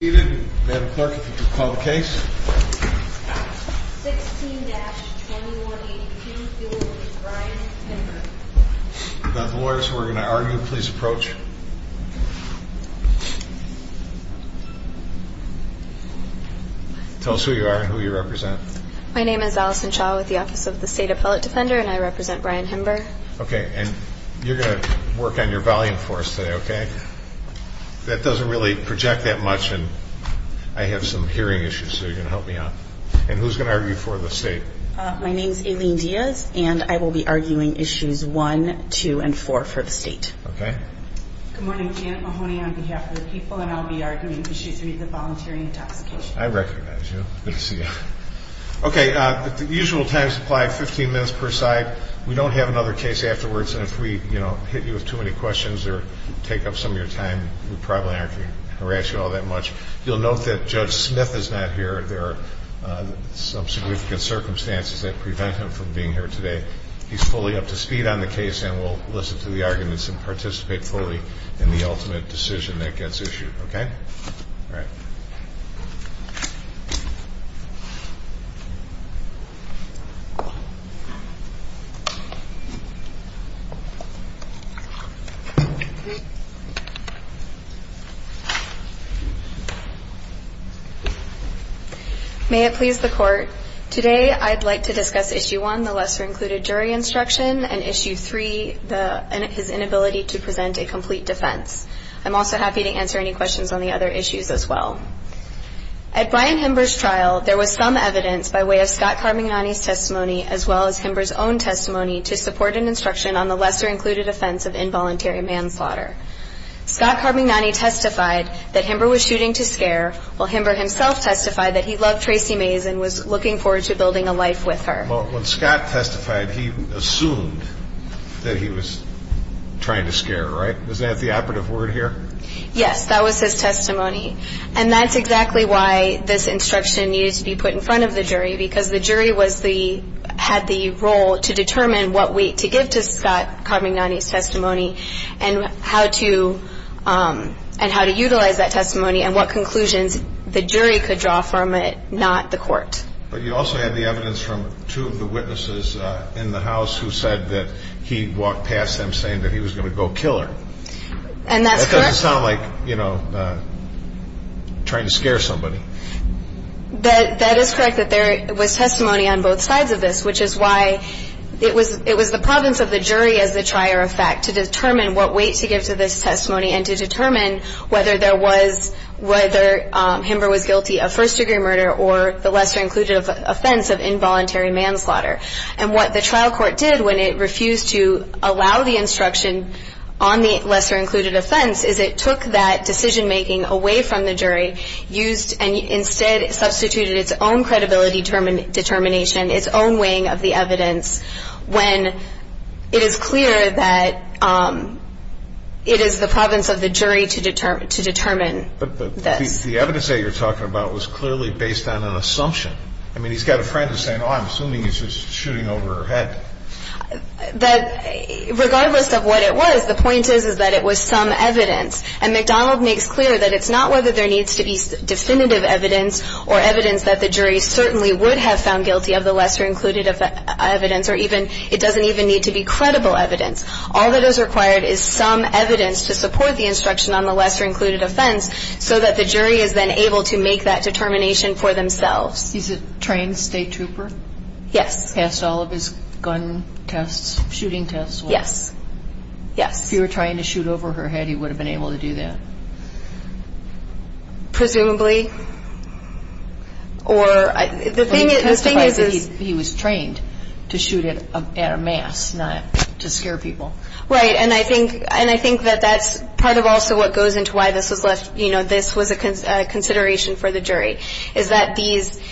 16-2182 is Brian Himber. If not the lawyers who are going to argue, please approach. Tell us who you are and who you represent. My name is Allison Shaw with the Office of the State Appellate Defender, and I represent Brian Himber. Okay, and you're going to work on your volume for us today, okay? That doesn't really project that much, and I have some hearing issues, so you're going to help me out. And who's going to argue for the state? My name is Aileen Diaz, and I will be arguing issues 1, 2, and 4 for the state. Okay. Good morning. Janet Mahoney on behalf of the people, and I'll be arguing issues 3, the volunteering intoxication. I recognize you. Good to see you. Okay, the usual time supply, 15 minutes per side. We don't have another case afterwards, and if we, you know, hit you with too many questions or take up some of your time, we probably aren't going to harass you all that much. You'll note that Judge Smith is not here. There are some significant circumstances that prevent him from being here today. He's fully up to speed on the case, and we'll listen to the arguments and participate fully in the ultimate decision that gets issued, okay? All right. May it please the Court, today I'd like to discuss issue 1, the lesser included jury instruction, and issue 3, his inability to present a complete defense. I'm also happy to answer any questions on the other issues as well. At Brian Himber's trial, there was some evidence by way of Scott Carmignani's testimony as well as Himber's own testimony to support an instruction on the lesser included offense of involuntary manslaughter. Scott Carmignani testified that Himber was shooting to scare, while Himber himself testified that he loved Tracy Mays and was looking forward to building a life with her. Well, when Scott testified, he assumed that he was trying to scare, right? Was that the operative word here? Yes, that was his testimony. And that's exactly why this instruction needs to be put in front of the jury, because the jury had the role to determine what weight to give to Scott Carmignani's testimony and how to utilize that testimony and what conclusions the jury could draw from it, not the Court. But you also had the evidence from two of the witnesses in the House who said that he walked past them saying that he was going to go kill her. And that's correct. That doesn't sound like, you know, trying to scare somebody. That is correct, that there was testimony on both sides of this, which is why it was the province of the jury as the trier of fact to determine what weight to give to this testimony and to determine whether Himber was guilty of first-degree murder or the lesser-included offense of involuntary manslaughter. And what the trial court did when it refused to allow the instruction on the lesser-included offense is it took that decision-making away from the jury and instead substituted its own credibility determination, its own weighing of the evidence, when it is clear that it is the province of the jury to determine this. But the evidence that you're talking about was clearly based on an assumption. I mean, he's got a friend who's saying, oh, I'm assuming he's just shooting over her head. Regardless of what it was, the point is, is that it was some evidence. And McDonald makes clear that it's not whether there needs to be definitive evidence or evidence that the jury certainly would have found guilty of the lesser-included evidence or even it doesn't even need to be credible evidence. All that is required is some evidence to support the instruction on the lesser-included offense so that the jury is then able to make that determination for themselves. Is it trained state trooper? Yes. Passed all of his gun tests, shooting tests? Yes. Yes. If you were trying to shoot over her head, he would have been able to do that? Presumably. Or the thing is, the thing is is he's trained to shoot at a mass, not to scare people. Right. And I think that that's part of also what goes into why this was left, you know, this was a consideration for the jury, is that these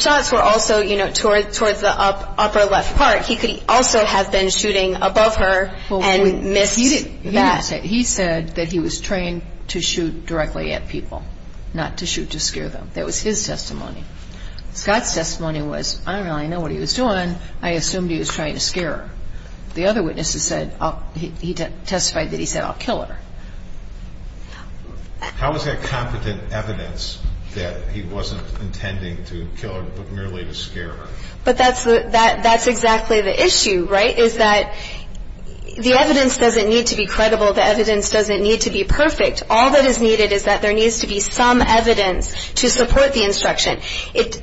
shots were also, you know, towards the upper left part. He could also have been shooting above her and missed that. He said that he was trained to shoot directly at people, not to shoot to scare them. That was his testimony. Scott's testimony was, I don't really know what he was doing. I assumed he was trying to scare her. The other witnesses said he testified that he said, I'll kill her. How is that competent evidence that he wasn't intending to kill her, but merely to scare her? But that's exactly the issue, right, is that the evidence doesn't need to be credible. The evidence doesn't need to be perfect. All that is needed is that there needs to be some evidence to support the instruction.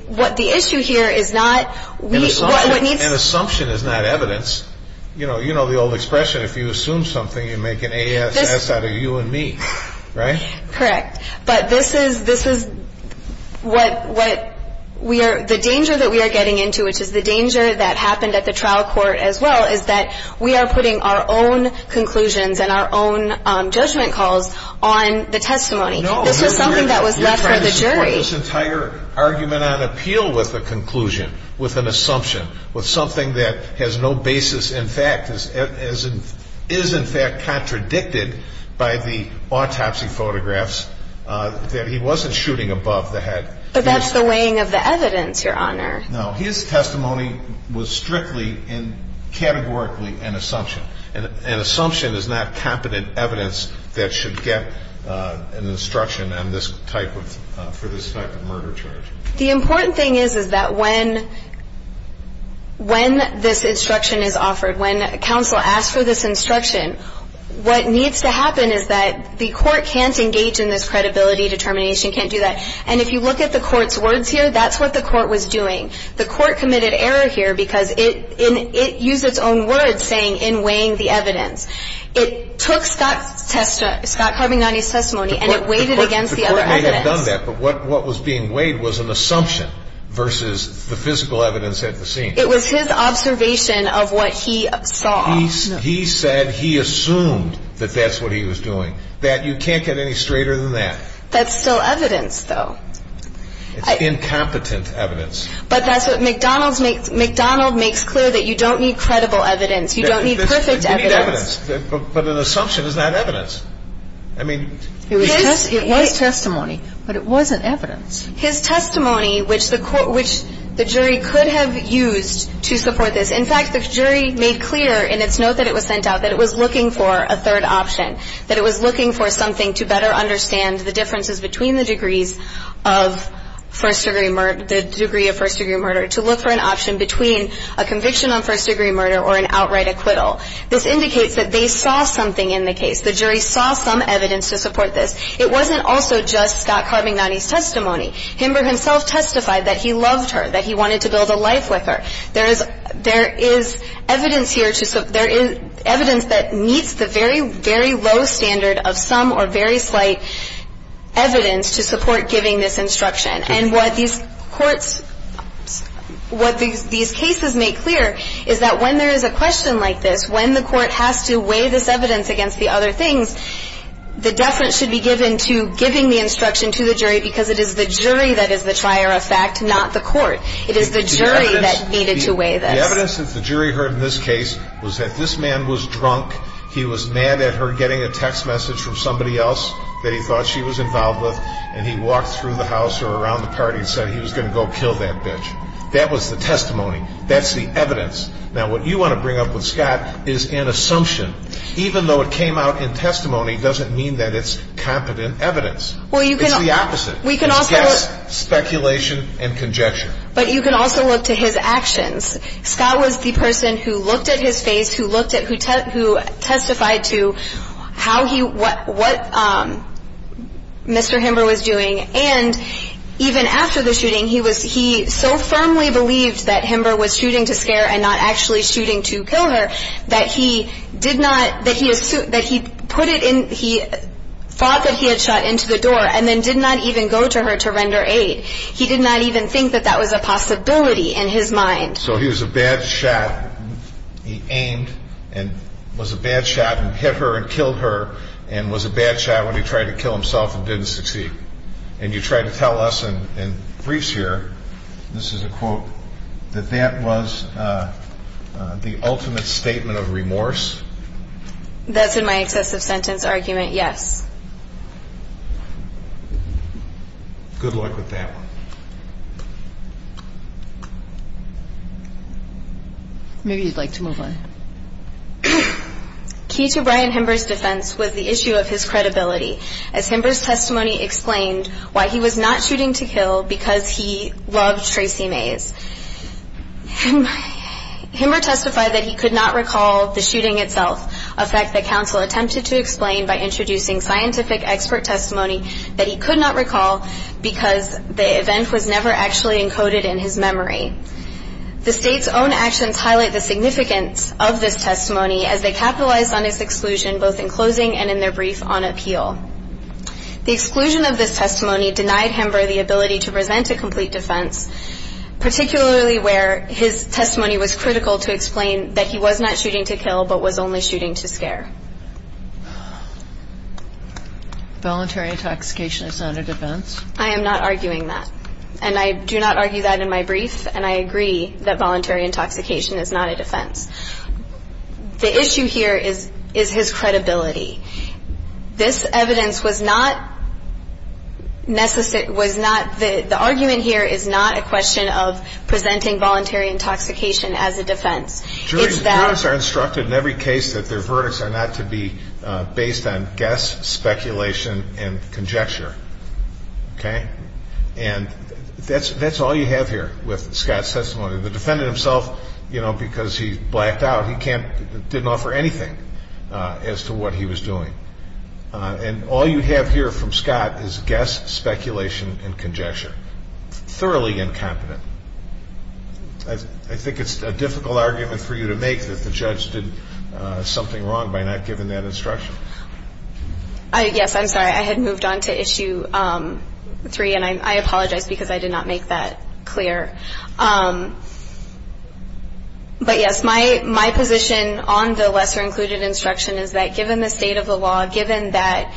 What the issue here is not what needs. An assumption is not evidence. You know the old expression. If you assume something, you make an A.S.S. out of you and me, right? Correct. But this is what we are, the danger that we are getting into, which is the danger that happened at the trial court as well, is that we are putting our own conclusions and our own judgment calls on the testimony. No. This was something that was left for the jury. He put this entire argument on appeal with a conclusion, with an assumption, with something that has no basis in fact, is in fact contradicted by the autopsy photographs that he wasn't shooting above the head. But that's the weighing of the evidence, Your Honor. No. His testimony was strictly and categorically an assumption. An assumption is not competent evidence that should get an instruction on this type of, for this type of murder charge. The important thing is that when this instruction is offered, when counsel asks for this instruction, what needs to happen is that the court can't engage in this credibility determination, can't do that. And if you look at the court's words here, that's what the court was doing. The court committed error here because it used its own words saying in weighing the evidence. It took Scott Carbignani's testimony and it weighed it against the other evidence. The court may have done that, but what was being weighed was an assumption versus the physical evidence at the scene. It was his observation of what he saw. He said he assumed that that's what he was doing. That you can't get any straighter than that. That's still evidence, though. It's incompetent evidence. But that's what McDonald's makes clear, that you don't need credible evidence. You don't need perfect evidence. You need evidence. But an assumption is not evidence. I mean, it was testimony, but it wasn't evidence. His testimony, which the jury could have used to support this. In fact, the jury made clear in its note that it was sent out that it was looking for a third option, that it was looking for something to better understand the differences between the degrees of first-degree murder, the degree of first-degree murder, to look for an option between a conviction on first-degree murder or an outright acquittal. This indicates that they saw something in the case. The jury saw some evidence to support this. It wasn't also just Scott Carbignani's testimony. Himber himself testified that he loved her, that he wanted to build a life with her. There is evidence here to – there is evidence that meets the very, very low standard of some or very slight evidence to support giving this instruction. And what these courts – what these cases make clear is that when there is a question like this, when the court has to weigh this evidence against the other things, the deference should be given to giving the instruction to the jury because it is the jury that is the trier of fact, not the court. It is the jury that needed to weigh this. The evidence that the jury heard in this case was that this man was drunk, he was mad at her getting a text message from somebody else that he thought she was involved with, and he walked through the house or around the party and said he was going to go kill that bitch. That was the testimony. That's the evidence. Now, what you want to bring up with Scott is an assumption. Even though it came out in testimony, it doesn't mean that it's competent evidence. It's the opposite. It's guess, speculation, and conjecture. But you can also look to his actions. Scott was the person who looked at his face, who testified to how he, what Mr. Himber was doing, and even after the shooting, he so firmly believed that Himber was shooting to scare and not actually shooting to kill her that he did not, that he thought that he had shot into the door and then did not even go to her to render aid. He did not even think that that was a possibility in his mind. So he was a bad shot. He aimed and was a bad shot and hit her and killed her and was a bad shot when he tried to kill himself and didn't succeed. And you try to tell us in briefs here, this is a quote, that that was the ultimate statement of remorse? That's in my excessive sentence argument, yes. Good luck with that one. Maybe you'd like to move on. Key to Brian Himber's defense was the issue of his credibility. As Himber's testimony explained, why he was not shooting to kill because he loved Tracy Mays. Himber testified that he could not recall the shooting itself, a fact that he could not recall because the event was never actually encoded in his memory. The state's own actions highlight the significance of this testimony as they capitalized on his exclusion both in closing and in their brief on appeal. The exclusion of this testimony denied Himber the ability to present a complete defense, particularly where his testimony was critical to explain that he was not shooting to kill but was only shooting to scare. Voluntary intoxication is not a defense? I am not arguing that. And I do not argue that in my brief. And I agree that voluntary intoxication is not a defense. The issue here is his credibility. This evidence was not necessary, was not, the argument here is not a question of presenting voluntary intoxication as a defense. Jurors are instructed in every case that their verdicts are not to be based on guess, speculation, and conjecture. Okay? And that's all you have here with Scott's testimony. The defendant himself, you know, because he blacked out, he didn't offer anything as to what he was doing. And all you have here from Scott is guess, speculation, and conjecture. Thoroughly incompetent. I think it's a difficult argument for you to make that the judge did something wrong by not giving that instruction. Yes, I'm sorry. I had moved on to issue three, and I apologize because I did not make that clear. But, yes, my position on the lesser included instruction is that given the state of the law, given that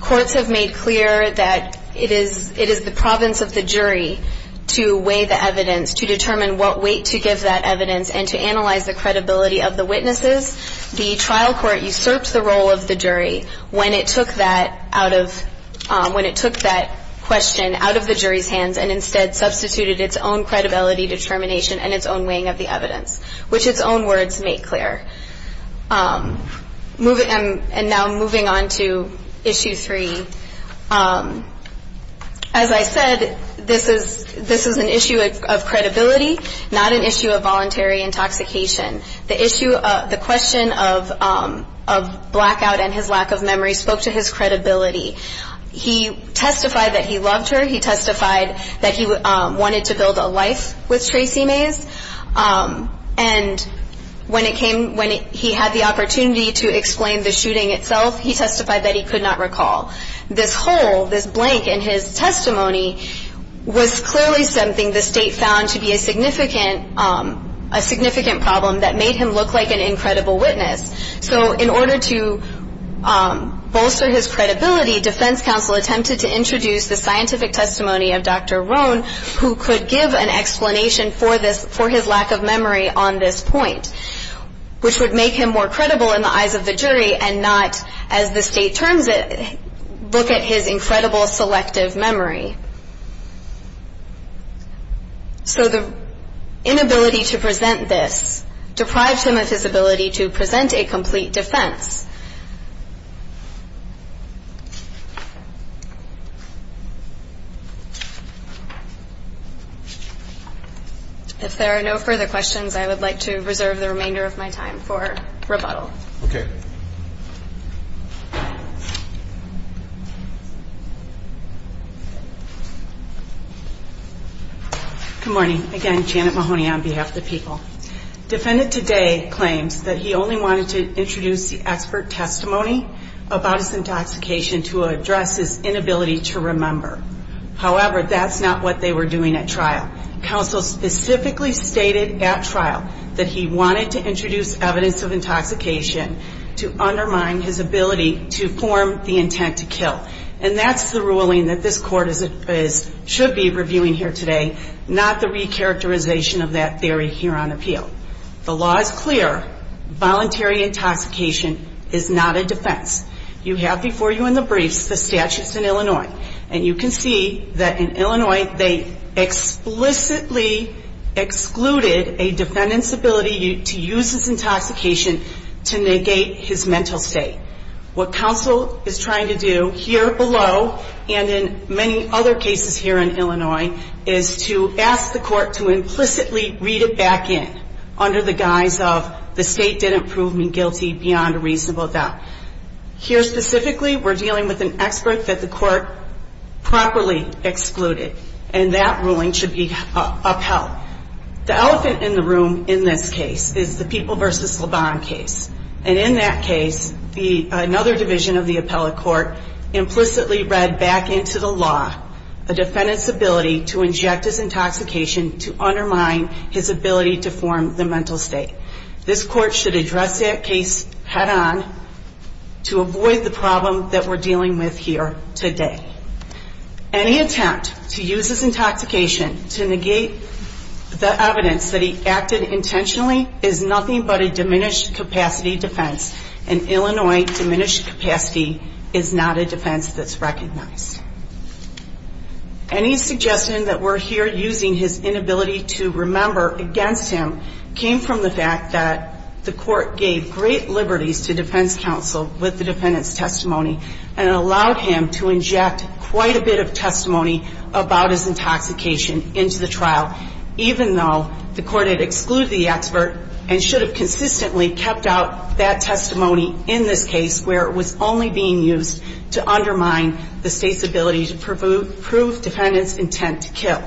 courts have made clear that it is the province of the jury to weigh the evidence, to determine what weight to give that evidence, and to analyze the credibility of the witnesses, the trial court usurped the role of the jury when it took that question out of the jury's hands and instead substituted its own credibility, determination, and its own weighing of the evidence, which its own words make clear. And now moving on to issue three. As I said, this is an issue of credibility, not an issue of voluntary intoxication. The issue of the question of blackout and his lack of memory spoke to his credibility. He testified that he loved her. He testified that he wanted to build a life with Tracy Mays. And when he had the opportunity to explain the shooting itself, he testified that he could not recall. This hole, this blank in his testimony was clearly something the state found to be a significant problem that made him look like an incredible witness. So in order to bolster his credibility, defense counsel attempted to introduce the scientific testimony of Dr. Roan, who could give an explanation for his lack of memory on this point, which would make him more credible in the eyes of the jury and not, as the state turns it, look at his incredible selective memory. So the inability to present this deprived him of his ability to present a testimony. If there are no further questions, I would like to reserve the remainder of my time for rebuttal. Okay. Good morning. Again, Janet Mahoney on behalf of the people. Defendant today claims that he only wanted to introduce the expert testimony about his intoxication to address his inability to remember. However, that's not what they were doing at trial. Counsel specifically stated at trial that he wanted to introduce evidence of intoxication to undermine his ability to form the intent to kill. And that's the ruling that this court should be reviewing here today, not the recharacterization of that theory here on appeal. The law is clear. Voluntary intoxication is not a defense. You have before you in the briefs the statutes in Illinois. And you can see that in Illinois they explicitly excluded a defendant's ability to use his intoxication to negate his mental state. What counsel is trying to do here below and in many other cases here in Illinois, is to use an expert testimony under the guise of the state didn't prove me guilty beyond a reasonable doubt. Here specifically we're dealing with an expert that the court properly excluded. And that ruling should be upheld. The elephant in the room in this case is the People v. Lebon case. And in that case, another division of the appellate court implicitly read back into the law a defendant's ability to inject his intoxication to negate his mental state. This court should address that case head on to avoid the problem that we're dealing with here today. Any attempt to use his intoxication to negate the evidence that he acted intentionally is nothing but a diminished capacity defense. An Illinois diminished capacity is not a defense that's recognized. Any suggestion that we're here using his inability to remember against him came from the fact that the court gave great liberties to defense counsel with the defendant's testimony. And it allowed him to inject quite a bit of testimony about his intoxication into the trial, even though the court had excluded the expert and should have consistently kept out that testimony in this case where it was only being used to undermine the state's ability to prove defendant's intent to kill.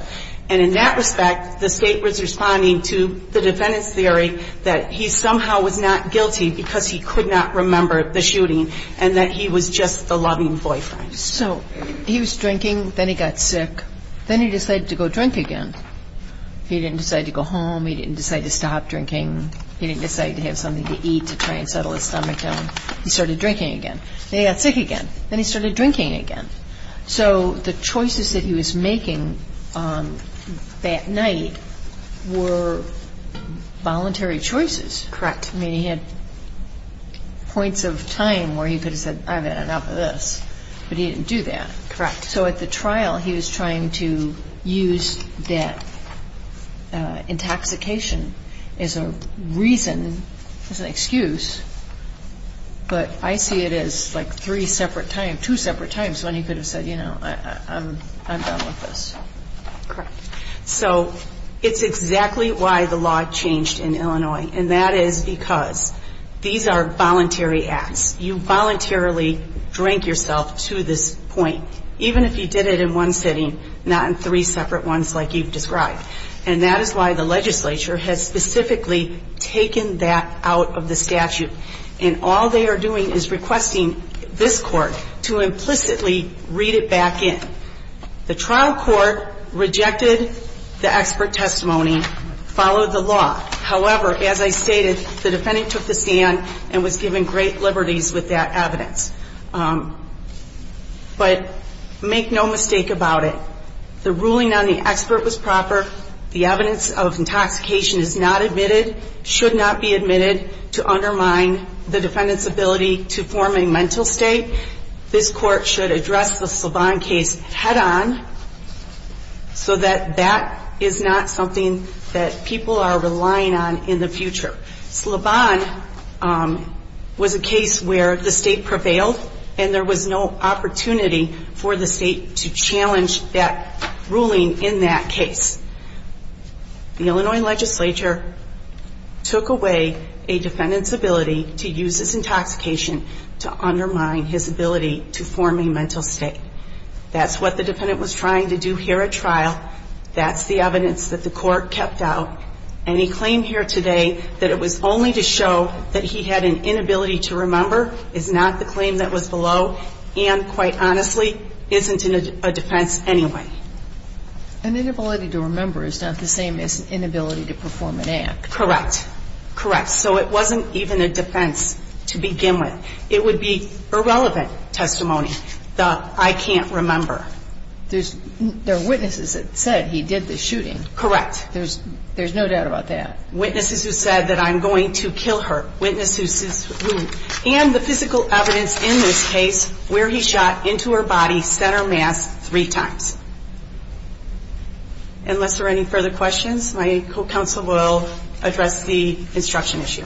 And in that respect, the state was responding to the defendant's theory that he somehow was not guilty because he could not remember the shooting and that he was just the loving boyfriend. So he was drinking. Then he got sick. Then he decided to go drink again. He didn't decide to go home. He didn't decide to stop drinking. He didn't decide to have something to eat to try and settle his stomach down. He started drinking again. Then he got sick again. Then he started drinking again. So the choices that he was making that night were voluntary choices. Correct. I mean, he had points of time where he could have said, I've had enough of this. But he didn't do that. Correct. So at the trial, he was trying to use that intoxication as a reason, as an excuse. But I see it as like three separate times, two separate times when he could have said, you know, I'm done with this. Correct. So it's exactly why the law changed in Illinois. And that is because these are voluntary acts. You voluntarily drink yourself to this point, even if you did it in one sitting, not in three separate ones like you've described. And that is why the legislature has specifically taken that out of the statute. And all they are doing is requesting this court to implicitly read it back in. The trial court rejected the expert testimony, followed the law. However, as I stated, the defendant took the stand and was given great liberties with that evidence. But make no mistake about it. The ruling on the expert was proper. The evidence of intoxication is not admitted, should not be admitted to undermine the defendant's ability to form a mental state. This court should address the Slabon case head on so that that is not something that people are relying on in the future. Slabon was a case where the state prevailed, and there was no opportunity for the state to challenge that ruling in that case. The Illinois legislature took away a defendant's ability to use his intoxication to undermine his ability to form a mental state. That's what the defendant was trying to do here at trial. That's the evidence that the court kept out. Any claim here today that it was only to show that he had an inability to remember is not the claim that was below and, quite honestly, isn't a defense anyway. An inability to remember is not the same as an inability to perform an act. Correct. Correct. So it wasn't even a defense to begin with. It would be irrelevant testimony, the I can't remember. There are witnesses that said he did the shooting. Correct. There's no doubt about that. Witnesses who said that I'm going to kill her. Witnesses who, and the physical evidence in this case where he shot into her body's center mass three times. Unless there are any further questions, my co-counsel will address the instruction issue.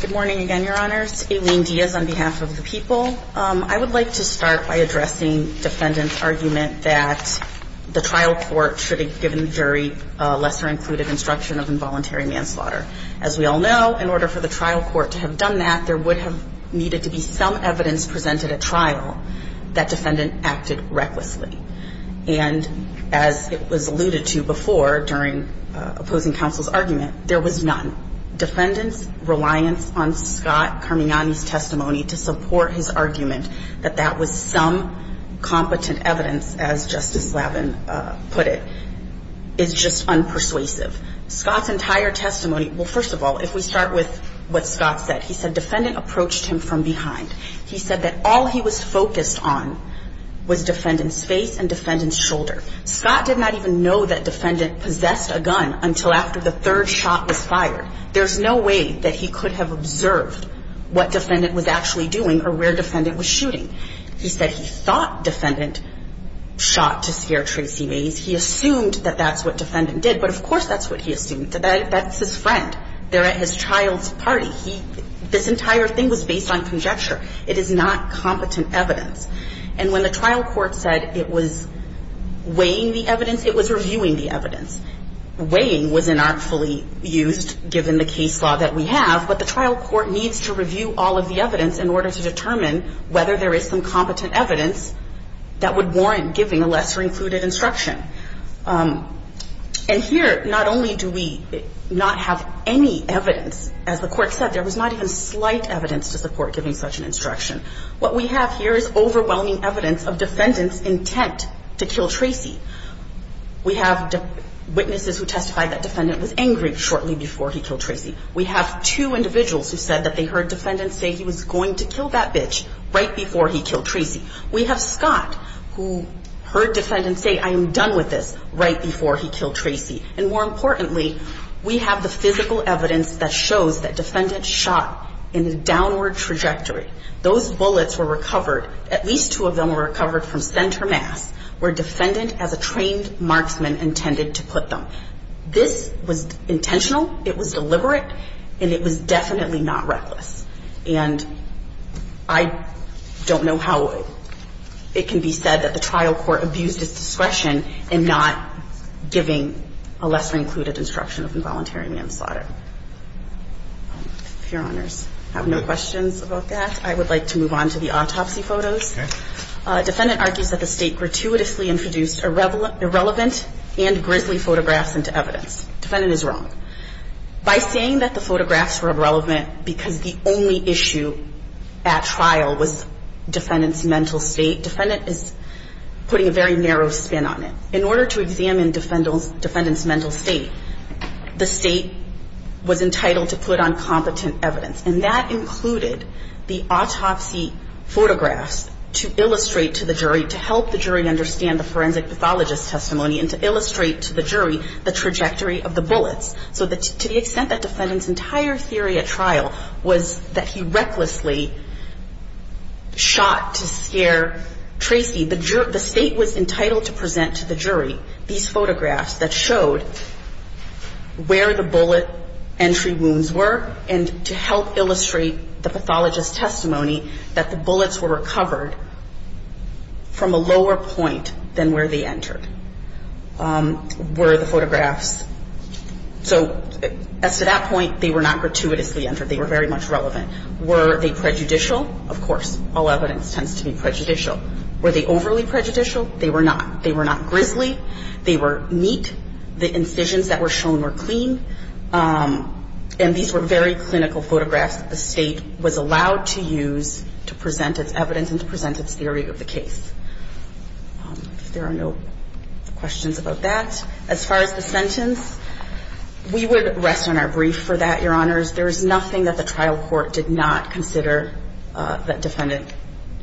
Good morning again, Your Honors. Aileen Diaz on behalf of the people. I would like to start by addressing defendant's argument that the trial court should have given jury a lesser included instruction of involuntary manslaughter. As we all know, in order for the trial court to have done that, there would have needed to be some evidence presented at trial that defendant acted recklessly. And as it was alluded to before during opposing counsel's argument, there was none. Defendant's reliance on Scott Carmiani's testimony to support his argument that that was some competent evidence, as Justice Lavin put it, is just unpersuasive. Scott's entire testimony, well, first of all, if we start with what Scott said, he said defendant approached him from behind. He said that all he was focused on was defendant's face and defendant's shoulder. Scott did not even know that defendant possessed a gun until after the third shot was fired. There's no way that he could have observed what defendant was actually doing or where defendant was shooting. He said he thought defendant shot to scare Tracy Mays. He assumed that that's what defendant did. But of course that's what he assumed. That's his friend. They're at his child's party. This entire thing was based on conjecture. It is not competent evidence. And when the trial court said it was weighing the evidence, it was reviewing the evidence. Weighing was inartfully used given the case law that we have. But the trial court needs to review all of the evidence in order to determine whether there is some competent evidence that would warrant giving a lesser included instruction. And here not only do we not have any evidence, as the court said, there was not even slight evidence to support giving such an instruction. What we have here is overwhelming evidence of defendant's intent to kill Tracy. We have witnesses who testified that defendant was angry shortly before he killed Tracy. We have two individuals who said that they heard defendant say he was going to kill that bitch right before he killed Tracy. We have Scott who heard defendant say I am done with this right before he killed Tracy. And more importantly, we have the physical evidence that shows that defendant shot in a downward trajectory. Those bullets were recovered. At least two of them were recovered from center mass where defendant as a trained marksman intended to put them. This was intentional, it was deliberate, and it was definitely not reckless. And I don't know how it can be said that the trial court abused its discretion in not giving a lesser included instruction of involuntary manslaughter. If Your Honors have no questions about that, I would like to move on to the autopsy photos. Okay. Defendant argues that the State gratuitously introduced irrelevant and grisly photographs into evidence. Defendant is wrong. By saying that the photographs were irrelevant because the only issue at trial was defendant's mental state, defendant is putting a very narrow spin on it. In order to examine defendant's mental state, the State was entitled to put on competent evidence. And that included the autopsy photographs to illustrate to the jury, to help the jury understand the forensic pathologist's testimony and to illustrate to the jury the trajectory of the bullets. So to the extent that defendant's entire theory at trial was that he recklessly shot to scare Tracy, the State was entitled to present to the jury these photographs that showed where the bullet entry wounds were and to help illustrate the pathologist's testimony that the bullets were recovered from a lower point than where they entered. Were the photographs – so as to that point, they were not gratuitously entered. They were very much relevant. Were they prejudicial? Of course, all evidence tends to be prejudicial. Were they overly prejudicial? They were not. They were not grisly. They were neat. The incisions that were shown were clean. And these were very clinical photographs that the State was allowed to use to present its evidence and to present its theory of the case. If there are no questions about that. As far as the sentence, we would rest on our brief for that, Your Honors. There is nothing that the trial court did not consider that defendant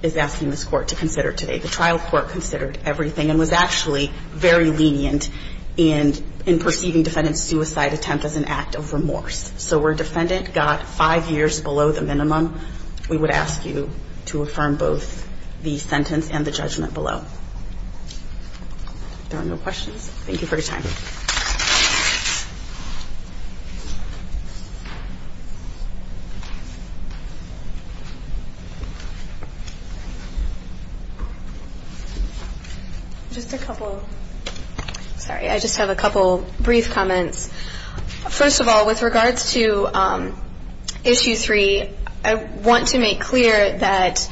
is asking this court to consider today. The trial court considered everything and was actually very lenient in perceiving defendant's suicide attempt as an act of remorse. So where defendant got five years below the minimum, we would ask you to affirm both the sentence and the judgment below. If there are no questions, thank you for your time. Thank you. Just a couple of ‑‑ sorry, I just have a couple brief comments. First of all, with regards to issue three, I want to make clear that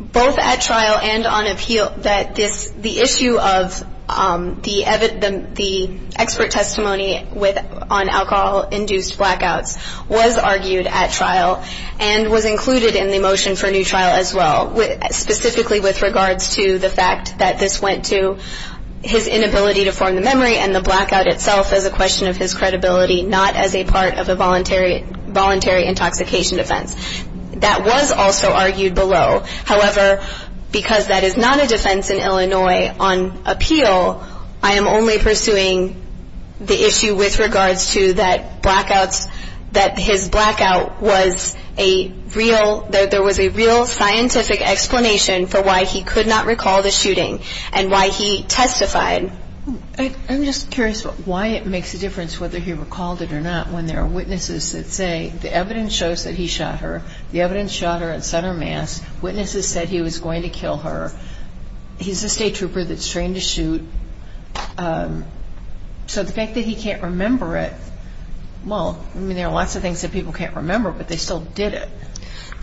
both at trial and on appeal, that the issue of the expert testimony on alcohol-induced blackouts was argued at trial and was included in the motion for new trial as well, specifically with regards to the fact that this went to his inability to form the memory and the blackout itself as a question of his credibility, not as a part of a voluntary intoxication offense. That was also argued below. However, because that is not a defense in Illinois on appeal, I am only pursuing the issue with regards to that blackouts, that his blackout was a real, that there was a real scientific explanation for why he could not recall the shooting and why he testified. I'm just curious why it makes a difference whether he recalled it or not when there are witnesses that say the evidence shows that he shot her, the evidence shot her at center mass, witnesses said he was going to kill her. He's a state trooper that's trained to shoot. So the fact that he can't remember it, well, I mean, there are lots of things that people can't remember, but they still did it.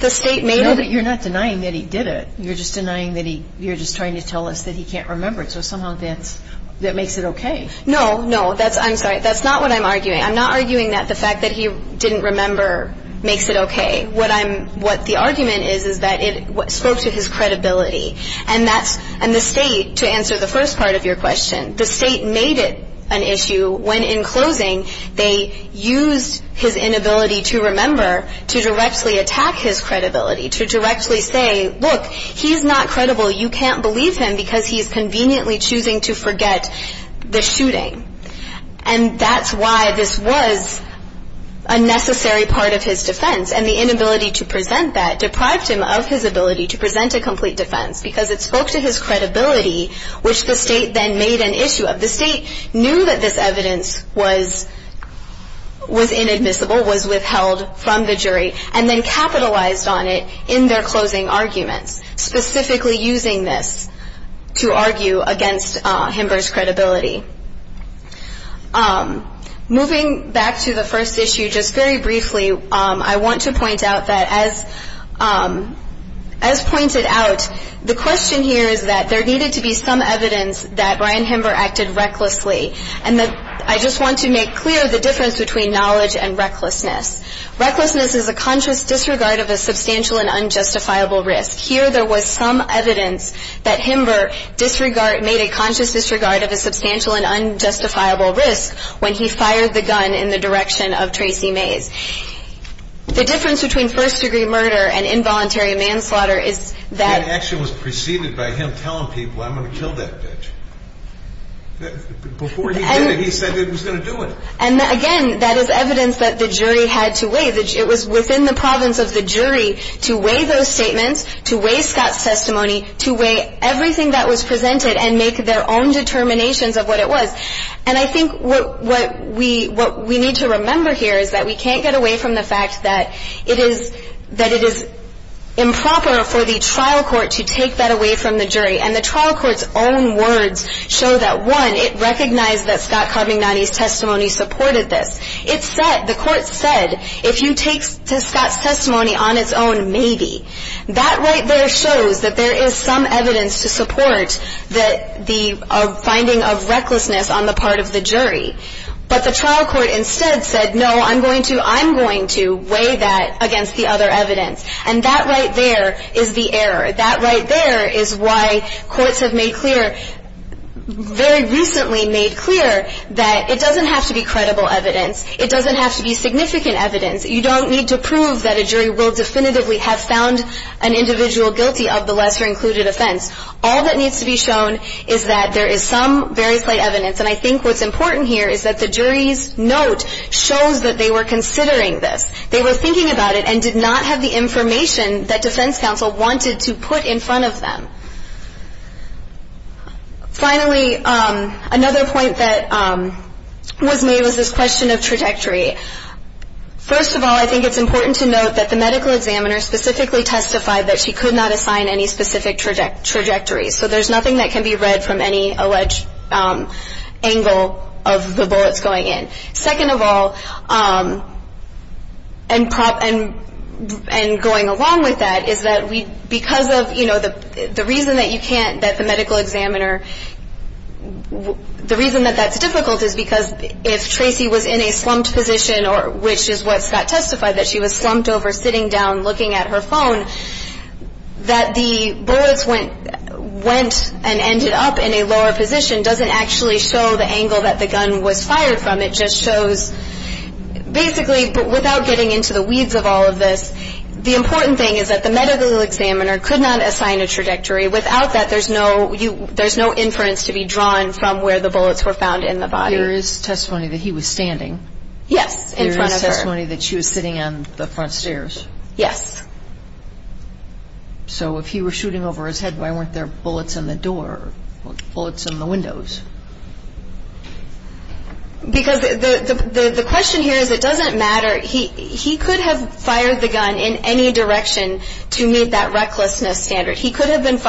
You're not denying that he did it. You're just denying that he, you're just trying to tell us that he can't remember it. So somehow that makes it okay. No, no. I'm sorry. That's not what I'm arguing. I'm not arguing that the fact that he didn't remember makes it okay. What I'm, what the argument is is that it spoke to his credibility. And that's, and the state, to answer the first part of your question, the state made it an issue when in closing they used his inability to remember to directly attack his credibility, to directly say, look, he's not credible. You can't believe him because he's conveniently choosing to forget the shooting. And that's why this was a necessary part of his defense. And the inability to present that deprived him of his ability to present a complete defense because it spoke to his credibility, which the state then made an issue of. The state knew that this evidence was inadmissible, was withheld from the jury, and then capitalized on it in their closing arguments, specifically using this to argue against Himber's credibility. Moving back to the first issue, just very briefly, I want to point out that as pointed out, the question here is that there needed to be some evidence that Ryan Himber acted recklessly. And I just want to make clear the difference between knowledge and recklessness. Recklessness is a conscious disregard of a substantial and unjustifiable risk. Here there was some evidence that Himber made a conscious disregard of a substantial and unjustifiable risk when he fired the gun in the direction of Tracy Mays. The difference between first-degree murder and involuntary manslaughter is that... That action was preceded by him telling people, I'm going to kill that bitch. Before he did it, he said he was going to do it. And again, that is evidence that the jury had to weigh. It was within the province of the jury to weigh those statements, to weigh Scott's testimony, to weigh everything that was presented and make their own determinations of what it was. And I think what we need to remember here is that we can't get away from the fact that it is improper for the trial court to take that away from the jury. And the trial court's own words show that, one, it recognized that Scott Carmignani's testimony supported this. It said, the court said, if you take Scott's testimony on its own, maybe. That right there shows that there is some evidence to support the finding of recklessness on the part of the jury. But the trial court instead said, no, I'm going to weigh that against the other evidence. And that right there is the error. That right there is why courts have made clear, very recently made clear, that it doesn't have to be credible evidence. It doesn't have to be significant evidence. You don't need to prove that a jury will definitively have found an individual guilty of the lesser included offense. All that needs to be shown is that there is some very slight evidence. And I think what's important here is that the jury's note shows that they were considering this. They were thinking about it and did not have the information that defense counsel wanted to put in front of them. Finally, another point that was made was this question of trajectory. First of all, I think it's important to note that the medical examiner specifically testified that she could not assign any specific trajectory. So there's nothing that can be read from any alleged angle of the bullets going in. Second of all, and going along with that, is that because of, you know, the reason that you can't, that the medical examiner, the reason that that's difficult is because if Tracy was in a slumped position, which is what Scott testified, that she was slumped over sitting down looking at her phone, that the bullets went and ended up in a lower position doesn't actually show the angle that the gun was fired from. It just shows, basically, without getting into the weeds of all of this, the important thing is that the medical examiner could not assign a trajectory. Without that, there's no inference to be drawn from where the bullets were found in the body. There is testimony that he was standing. Yes, in front of her. There is testimony that she was sitting on the front stairs. Yes. So if he were shooting over his head, why weren't there bullets in the door, bullets in the windows? Because the question here is it doesn't matter. He could have fired the gun in any direction to meet that recklessness standard. He could have been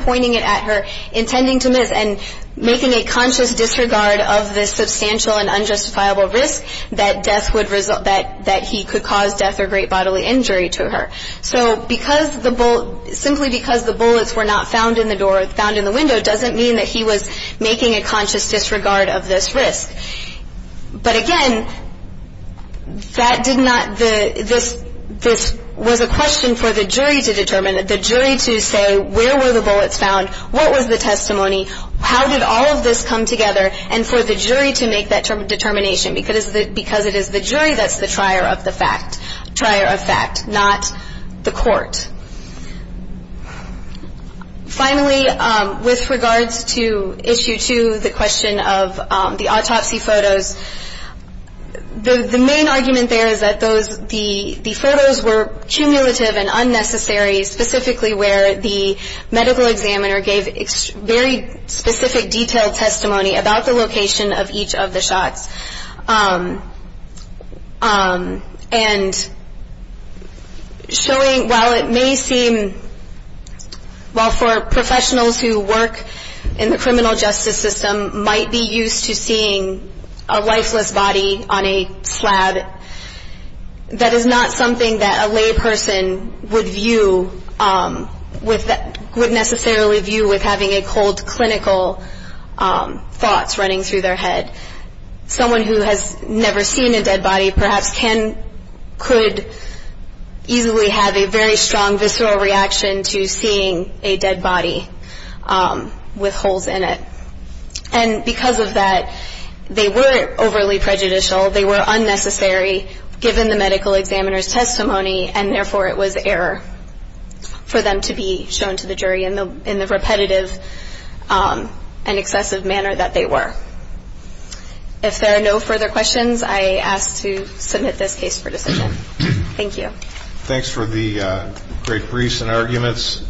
pointing it at her, intending to miss, and making a conscious disregard of the substantial and unjustifiable risk that death would result, that he could cause death or great bodily injury to her. So simply because the bullets were not found in the door, found in the window, doesn't mean that he was making a conscious disregard of this risk. But again, this was a question for the jury to determine, the jury to say where were the bullets found, what was the testimony, how did all of this come together, and for the jury to make that determination because it is the jury that's the trier of fact, not the court. Finally, with regards to issue two, the question of the autopsy photos, the main argument there is that the photos were cumulative and unnecessary, specifically where the medical examiner gave very specific detailed testimony about the location of each of the shots. And showing, while it may seem, while for professionals who work in the criminal justice system, might be used to seeing a lifeless body on a slab, that is not something that a lay person would view, would necessarily view, with having a cold clinical thoughts running through their head. Someone who has never seen a dead body perhaps could easily have a very strong visceral reaction to seeing a dead body with holes in it. And because of that, they were overly prejudicial, they were unnecessary, given the medical examiner's testimony, and therefore it was error for them to be shown to the jury in the repetitive and excessive manner that they were. If there are no further questions, I ask to submit this case for decision. Thank you. Thanks for the great briefs and arguments.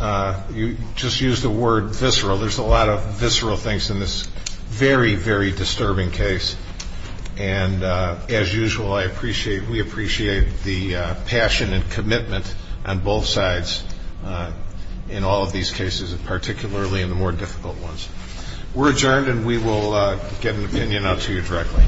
You just used the word visceral. There's a lot of visceral things in this very, very disturbing case. And as usual, we appreciate the passion and commitment on both sides in all of these cases, particularly in the more difficult ones. We're adjourned, and we will get an opinion out to you directly.